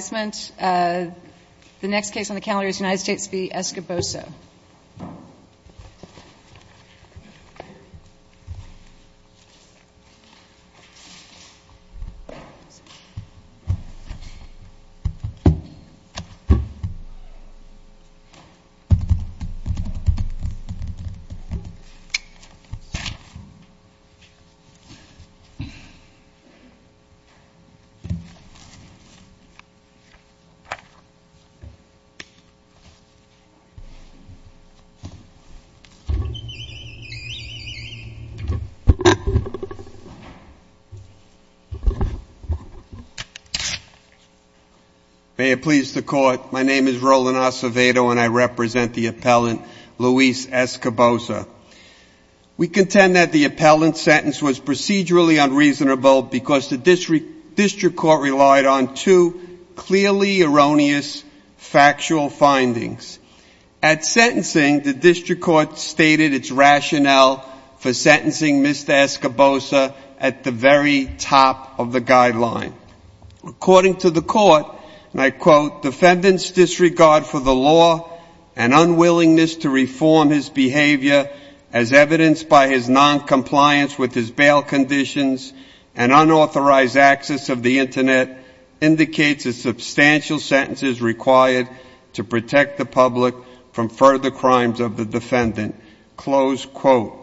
Caboso. May it please the court, my name is Roland Acevedo and I represent the appellant Luis Es Caboso. We contend that the appellant's sentence was procedurally unreasonable because the district court relied on two clearly erroneous factual findings. At sentencing, the district court stated its rationale for sentencing Mr. Es Caboso at the very top of the guideline. According to the court, and I quote, defendants disregard for the law and unwillingness to reform his behavior as evidenced by his noncompliance with his bail conditions. An unauthorized access of the internet indicates a substantial sentence is required to protect the public from further crimes of the defendant. Close quote.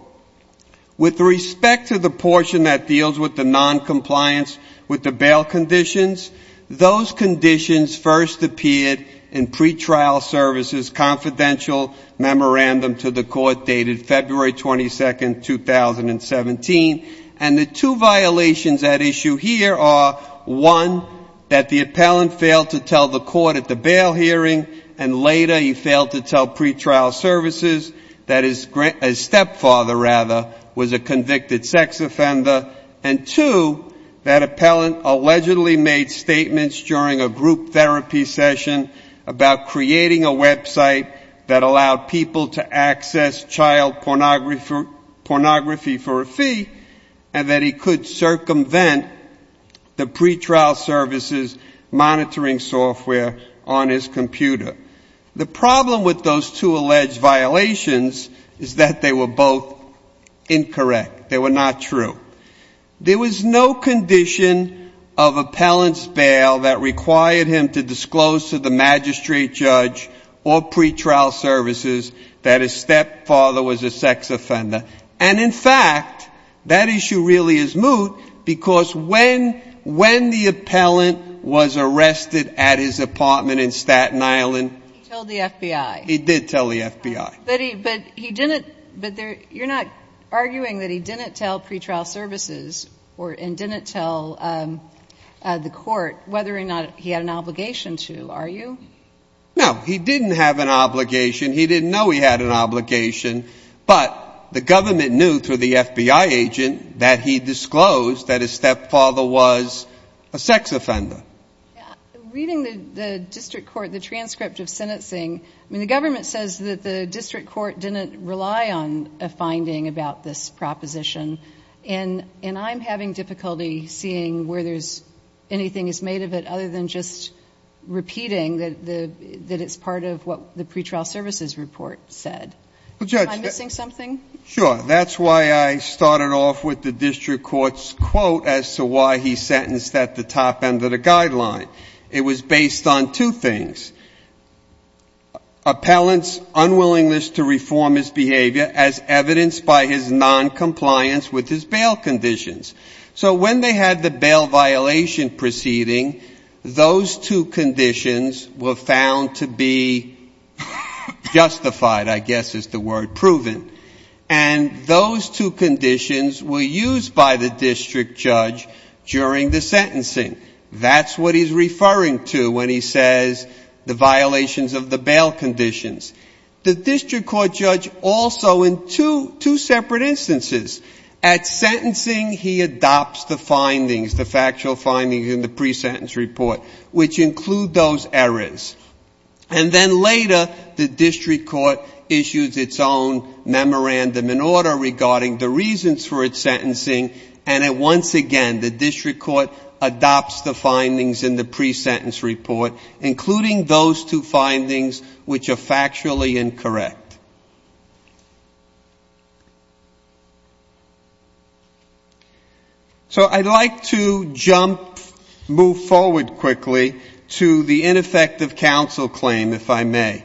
With respect to the portion that deals with the noncompliance with the bail conditions, those conditions first appeared in pretrial services confidential memorandum to the court dated February 22, 2017. And the two violations at issue here are, one, that the appellant failed to tell the court at the bail hearing and later he failed to tell pretrial services that his stepfather, rather, was a convicted sex offender, and two, that appellant allegedly made statements during a group therapy session about creating a website that allowed people to access child pornography for a fee and that he could circumvent the pretrial services monitoring software on his computer. The problem with those two alleged violations is that they were both incorrect. They were not true. There was no condition of appellant's bail that required him to disclose to the magistrate judge or pretrial services that his stepfather was a sex offender. And, in fact, that issue really is moot because when the appellant was arrested at his apartment in Staten Island, he told the FBI. He did tell the FBI. But he didn't, but you're not arguing that he didn't tell pretrial services and didn't tell the court whether or not he had an obligation to, are you? No, he didn't have an obligation. He didn't know he had an obligation. But the government knew through the FBI agent that he disclosed that his stepfather was a sex offender. Reading the district court, the transcript of sentencing, I mean, the government says that the district court didn't rely on a finding about this proposition. And I'm having difficulty seeing where there's anything that's made of it other than just repeating that it's part of what the pretrial services report said. Am I missing something? Sure. That's why I started off with the district court's quote as to why he sentenced at the top end of the guideline. It was based on two things. Appellant's unwillingness to reform his behavior as evidenced by his noncompliance with his bail conditions. So when they had the bail violation proceeding, those two conditions were found to be justified, I guess is the word, proven. And those two conditions were used by the district judge during the sentencing. That's what he's referring to when he says the violations of the bail conditions. The fact is that also in two separate instances, at sentencing he adopts the findings, the factual findings in the presentence report, which include those errors. And then later the district court issues its own memorandum in order regarding the reasons for its sentencing. And once again, the district court adopts the findings in the presentence report, including those two findings which are factually incorrect. So I'd like to jump, move forward quickly to the ineffective counsel claim, if I may.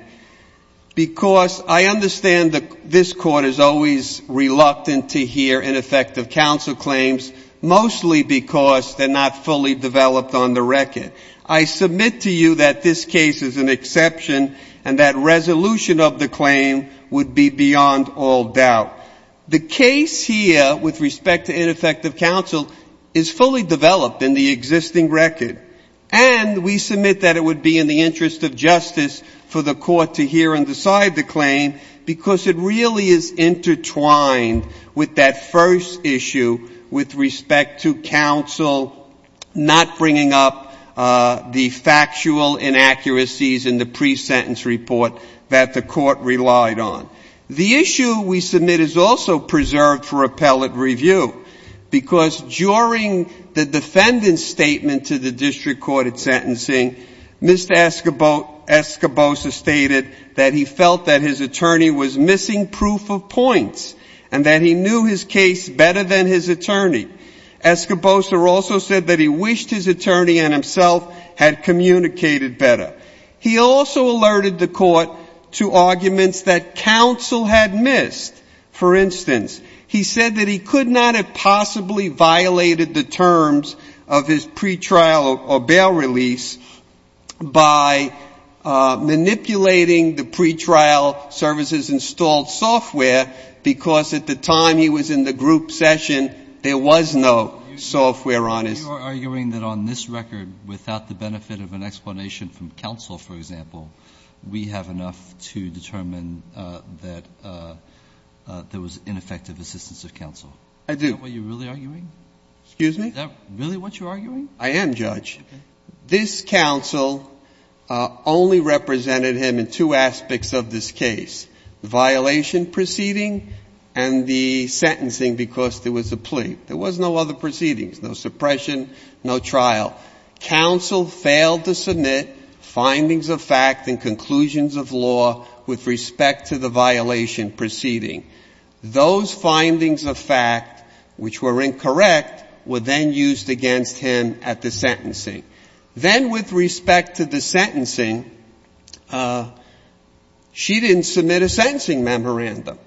Because I understand that this court is always reluctant to hear ineffective counsel claims, mostly because they're not fully developed on the record. I submit to you that this case is an exception, and that resolution of the claim would be beyond all doubt. The case here with respect to ineffective counsel is fully developed in the existing record. And we submit that it would be in the interest of justice for the court to hear and decide the claim, because it really is intertwined with that first issue with respect to counsel not bringing up the factual inaccuracies in the presentence report that the court relied on. The issue we submit is also preserved for appellate review, because during the defendant's visit to the district court at sentencing, Mr. Escobosa stated that he felt that his attorney was missing proof of points, and that he knew his case better than his attorney. Escobosa also said that he wished his attorney and himself had communicated better. He also alerted the court to arguments that counsel had missed. For instance, he said that he had missed the pre-trial or bail release by manipulating the pre-trial services installed software, because at the time he was in the group session, there was no software on his record. You are arguing that on this record, without the benefit of an explanation from counsel, for example, we have enough to determine that there was ineffective assistance of counsel. I do. Is that what you're really arguing? Excuse me? Is that really what you're arguing? I am, Judge. This counsel only represented him in two aspects of this case, the violation proceeding and the sentencing, because there was a plea. There was no other proceedings, no suppression, no trial. Counsel failed to submit findings of fact and conclusions of law with respect to the violation proceeding. Those findings of fact, which were incorrect, were then used against him at the sentencing. Then with respect to the sentencing, she didn't submit a sentencing memorandum.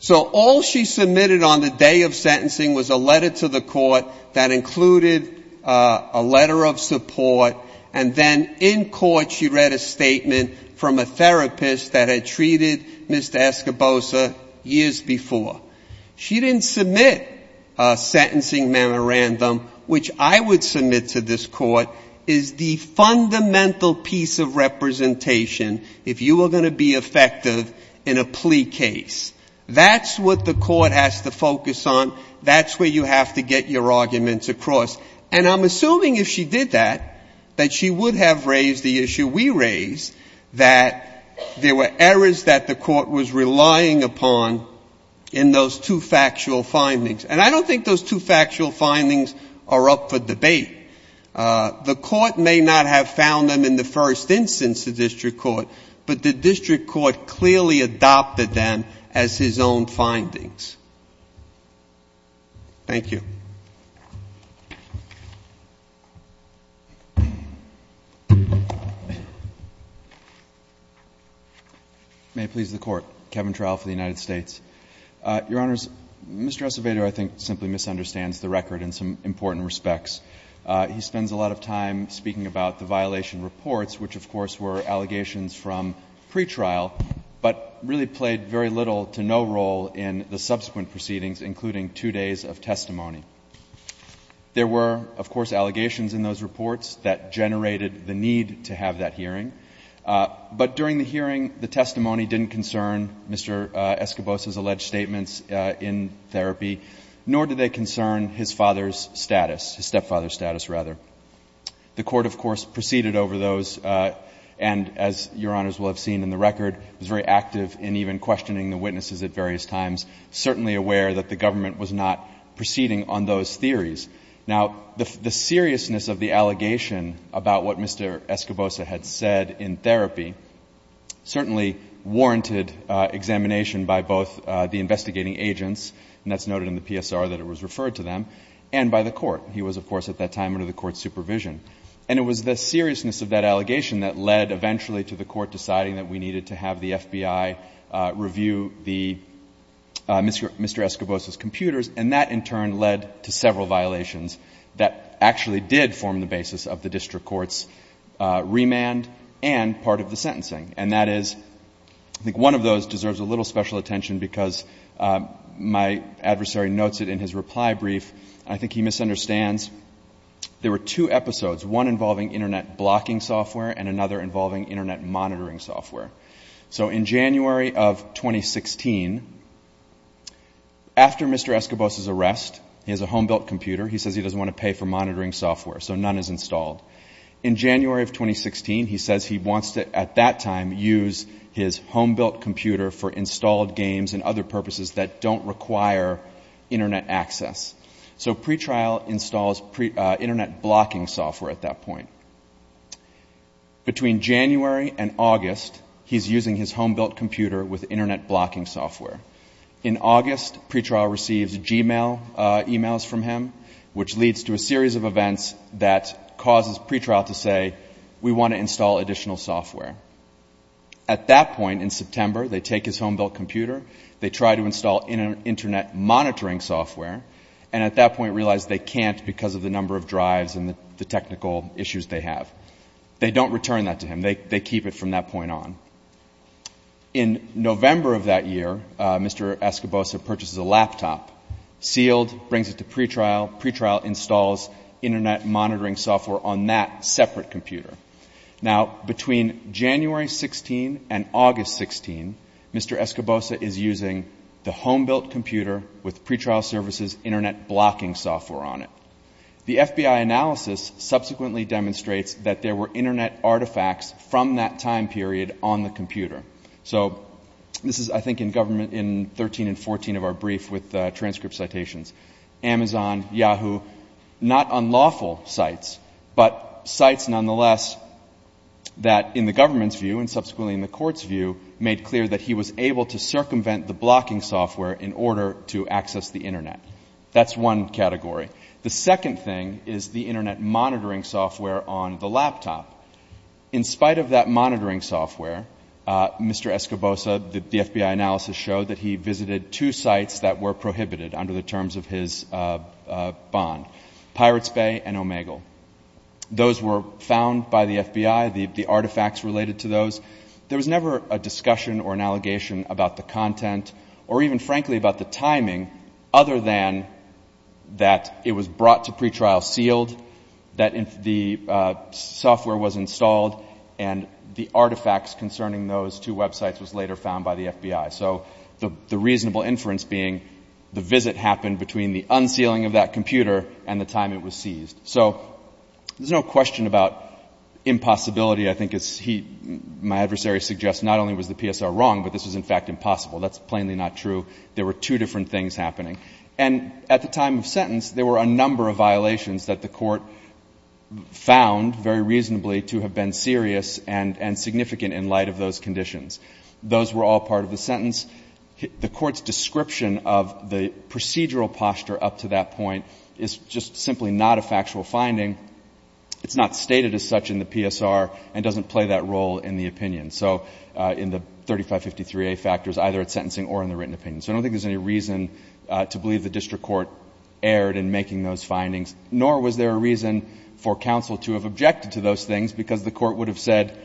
So all she submitted on the day of sentencing was a letter to the court that included a letter of support, and then in court she read a statement from a therapist that had treated Mr. Escobosa years before. She didn't submit a sentencing memorandum, which I would submit to this court is the fundamental piece of representation if you are going to be effective in a plea case. That's what the court has to focus on. That's where you have to get your arguments across. And I'm assuming if she did that, that she would have raised the issue we raised, that there were errors that the court was relying upon in those two factual findings. And I don't think those two factual findings are up for debate. The court may not have found them in the first instance, the district court, but the district court clearly adopted them as his own findings. Thank you. May it please the Court. Kevin Trial for the United States. Your Honors, Mr. Escobado, I think, simply misunderstands the record in some important respects. He spends a lot of time speaking about the violation reports, which, of course, were allegations from pretrial, but really played very little to no role in the subsequent proceedings, including two days of testimony. There were, of course, allegations in those reports that generated the need to have that hearing. But during the hearing, the testimony didn't concern Mr. Escobado's alleged statements in therapy, nor did they concern his father's status, his stepfather's status, rather. The court, of course, proceeded over those and, as Your Honors will have seen in the record, was very active in even questioning the witnesses at various times, certainly aware that the government was not proceeding on those theories. Now, the seriousness of the allegation about what Mr. Escobado had said in therapy certainly warranted examination by both the investigating agents, and that's noted in the PSR that it was referred to them, and by the court. He was, of course, at that time under the court's supervision. And it was the seriousness of that allegation that led eventually to the court deciding that we needed to have the FBI review Mr. Escobado's computers, and that in turn led to several violations that actually did form the basis of the district court's remand and part of the sentencing. And that is, I think one of those deserves a little special attention because my adversary notes it in his reply brief, and I think he misunderstands. There were two episodes, one involving Internet blocking software and another involving Internet monitoring software. So in January of 2016, after Mr. Escobado's arrest, he has a home-built computer. He says he doesn't want to pay for monitoring software, so none is installed. In January of 2016, he says he wants to, at that time, use his home-built computer for installed games and other purposes that don't require Internet access. So pretrial installs Internet blocking software at that point. Between January and August, he's using his home-built computer with Internet blocking software. In August, pretrial receives Gmail emails from him, which leads to a series of events that causes pretrial to say, we want to install additional software. At that point in September, they take his home-built computer, they try to install Internet monitoring software, and at that point realize they can't because of the number of drives and the technical issues they have. They don't return that to him. They keep it from that point on. In November of that year, Mr. Escobado purchases a laptop, sealed, brings it to pretrial, pretrial installs Internet monitoring software on that separate computer. Now, between January 16 and August 16, Mr. Escobado is using the home-built computer with pretrial services Internet blocking software on it. The FBI analysis subsequently demonstrates that there were Internet artifacts from that time period on the computer. So this is, I think, in 13 and 14 of our brief with transcript citations. Amazon, Yahoo, not unlawful sites, but sites nonetheless that in the government's view and subsequently in the court's view made clear that he was able to circumvent the blocking software in order to access the Internet. That's one category. The second thing is the Internet monitoring software on the laptop. In spite of that monitoring software, Mr. Escobado, the FBI analysis showed that he visited two sites that were prohibited under the terms of his bond, Pirate's Bay and Omegle. Those were found by the FBI, the artifacts related to those. There was never a discussion or an allegation about the content or even frankly about the timing other than that it was brought to pretrial sealed, that the software was installed, and the artifacts concerning those two websites was later found by the FBI. So the reasonable inference being the visit happened between the unsealing of that computer and the time it was seized. So there's no question about impossibility. I think as he, my adversary suggests, not only was the PSR wrong, but this was in fact impossible. That's plainly not true. There were two different things happening. And at the time of sentence, there were a number of violations that the court found very reasonably to have been serious and significant in light of those conditions. Those were all part of the sentence. The court's description of the procedural posture up to that point is just simply not a factual finding. It's not stated as such in the PSR and doesn't play that role in the opinion. So in the 3553A factors either it's sentencing or in the written opinion. So I don't think there's any reason to believe the district court erred in making those findings, nor was there a reason for counsel to have objected to those things because the court would have said,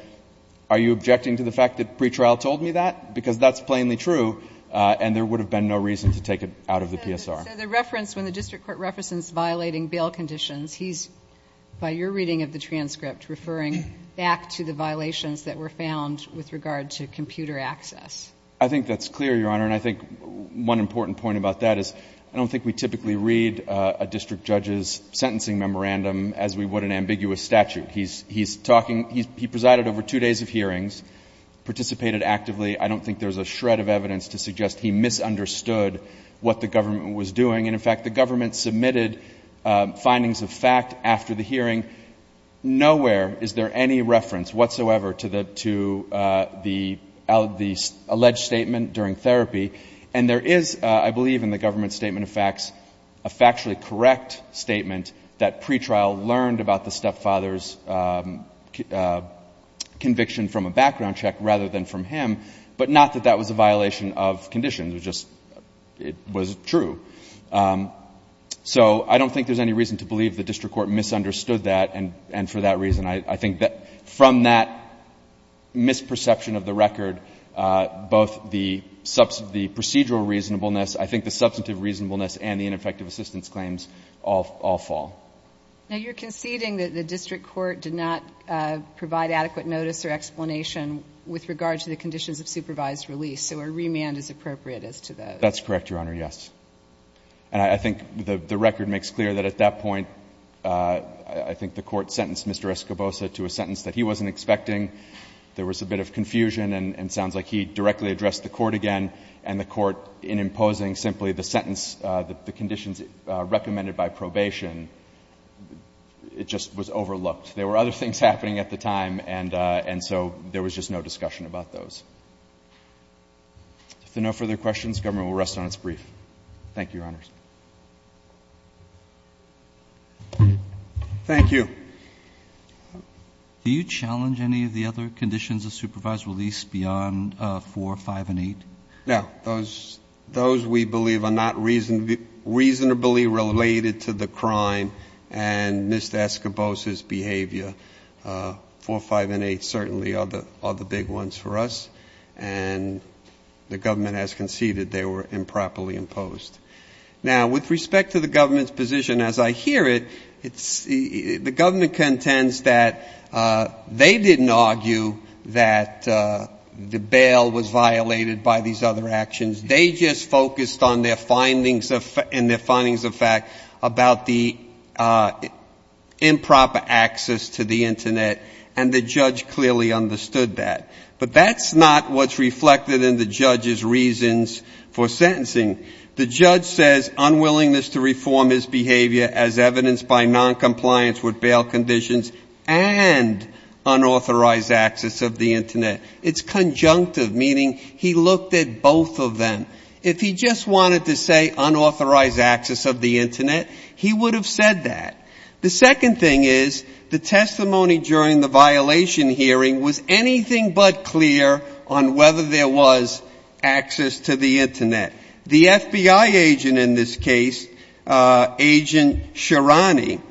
are you objecting to the fact that pretrial told me that, because that's plainly true, and there would have been no reason to take it out of the PSR. So the reference, when the district court references violating bail conditions, he's, by your reading of the transcript, referring back to the violations that were found with regard to computer access. I think that's clear, Your Honor. And I think one important point about that is I don't think we typically read a district judge's sentencing memorandum as we would an ambiguous statute. He's talking, he presided over two days of hearings, participated actively. I don't think there's a shred of evidence to suggest he misunderstood what the government was doing. And, in fact, the government submitted findings of fact after the hearing. Nowhere is there any reference whatsoever to the alleged statement during therapy. And there is, I believe in the government's statement of facts, a factually correct statement that pretrial learned about the stepfather's conviction from a background check rather than from him, but not that that was a violation of conditions. It was just, it was true. So I don't think there's any reason to believe the district court misunderstood that, and for that reason, I think that from that misperception of the record, both the procedural reasonableness, I think the substantive reasonableness and the ineffective assistance claims all fall. Now, you're conceding that the district court did not provide adequate notice or explanation with regard to the conditions of supervised release, so a remand is appropriate as to those. That's correct, Your Honor, yes. And I think the record makes clear that at that point, I think the court sentenced Mr. Escobosa to a sentence that he wasn't expecting. There was a bit of confusion, and it sounds like he directly addressed the court again, and the court, in imposing simply the sentence, the conditions recommended by probation, it just was overlooked. There were other things happening at the time, and so there was just no discussion about those. If there are no further questions, the government will rest on its brief. Thank you, Your Honors. Thank you. Do you challenge any of the other conditions of supervised release beyond 4, 5 and 8? No. Those we believe are not reasonably related to the crime and Mr. Escobosa's behavior. 4, 5 and 8 certainly are the big ones for us, and the government has conceded they were improperly imposed. Now, with respect to the government's position, as I hear it, the government contends that they didn't argue that the bail was violated by these other actions. They just focused on their findings and their findings of fact about the improper access to the Internet, and the judge clearly understood that. But that's not what's reflected in the judge's reasons for sentencing. The judge says unwillingness to reform his behavior as evidenced by noncompliance with bail conditions and unauthorized access of the Internet. It's conjunctive, meaning he looked at both of them. If he just wanted to say unauthorized access of the Internet, he would have said that. The second thing is the testimony during the violation hearing was anything but clear on Agent Shirani.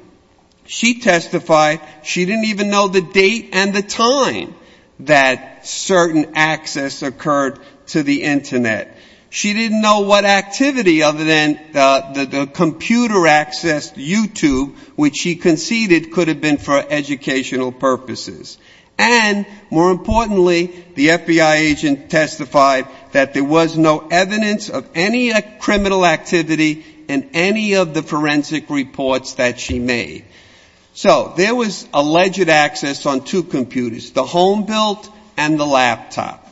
She testified she didn't even know the date and the time that certain access occurred to the Internet. She didn't know what activity other than the computer accessed YouTube, which she conceded could have been for educational purposes. And more importantly, the FBI agent testified that there was no evidence of any criminal activity in any of the forensic reports that she made. So there was alleged access on two computers, the home built and the laptop.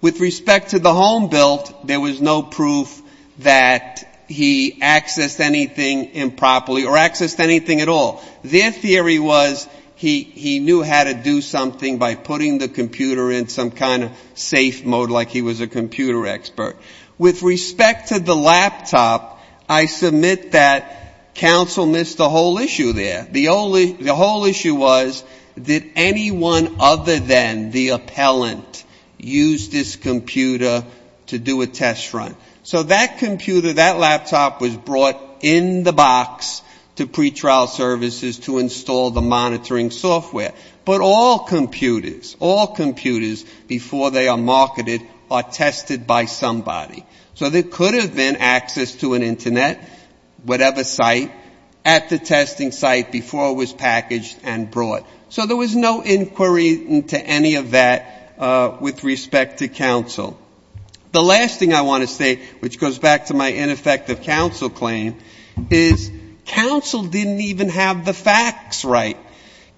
With respect to the home built, there was no proof that he accessed anything improperly or accessed anything at all. Their theory was he knew how to do something by putting the computer in some kind of safe mode like he was a computer expert. With respect to the laptop, I submit that counsel missed the whole issue there. The whole issue was, did anyone other than the appellant use this computer to do a test run? So that computer, that laptop was brought in the box to pretrial services to install the monitoring software. But all computers, all computers before they are marketed are tested by somebody. So there could have been access to an Internet, whatever site, at the testing site before it was packaged and brought. So there was no inquiry into any of that with respect to counsel. The last thing I want to say, which goes back to my ineffective counsel claim, is counsel didn't even have the facts right.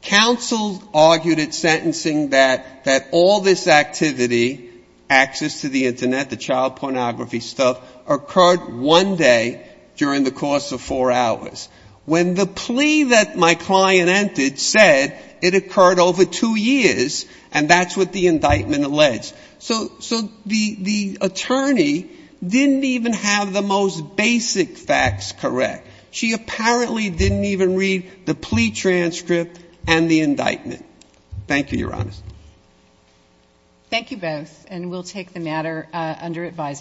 Counsel argued at sentencing that all this activity, access to the Internet, the child pornography stuff, occurred one day during the course of four hours. When the plea that my client entered said it occurred over two years, and that's what the indictment alleged. So the attorney didn't even have the most basic facts correct. She apparently didn't even read the plea transcript and the indictment. Thank you, Your Honors. Thank you both. And we'll take the matter under advisement.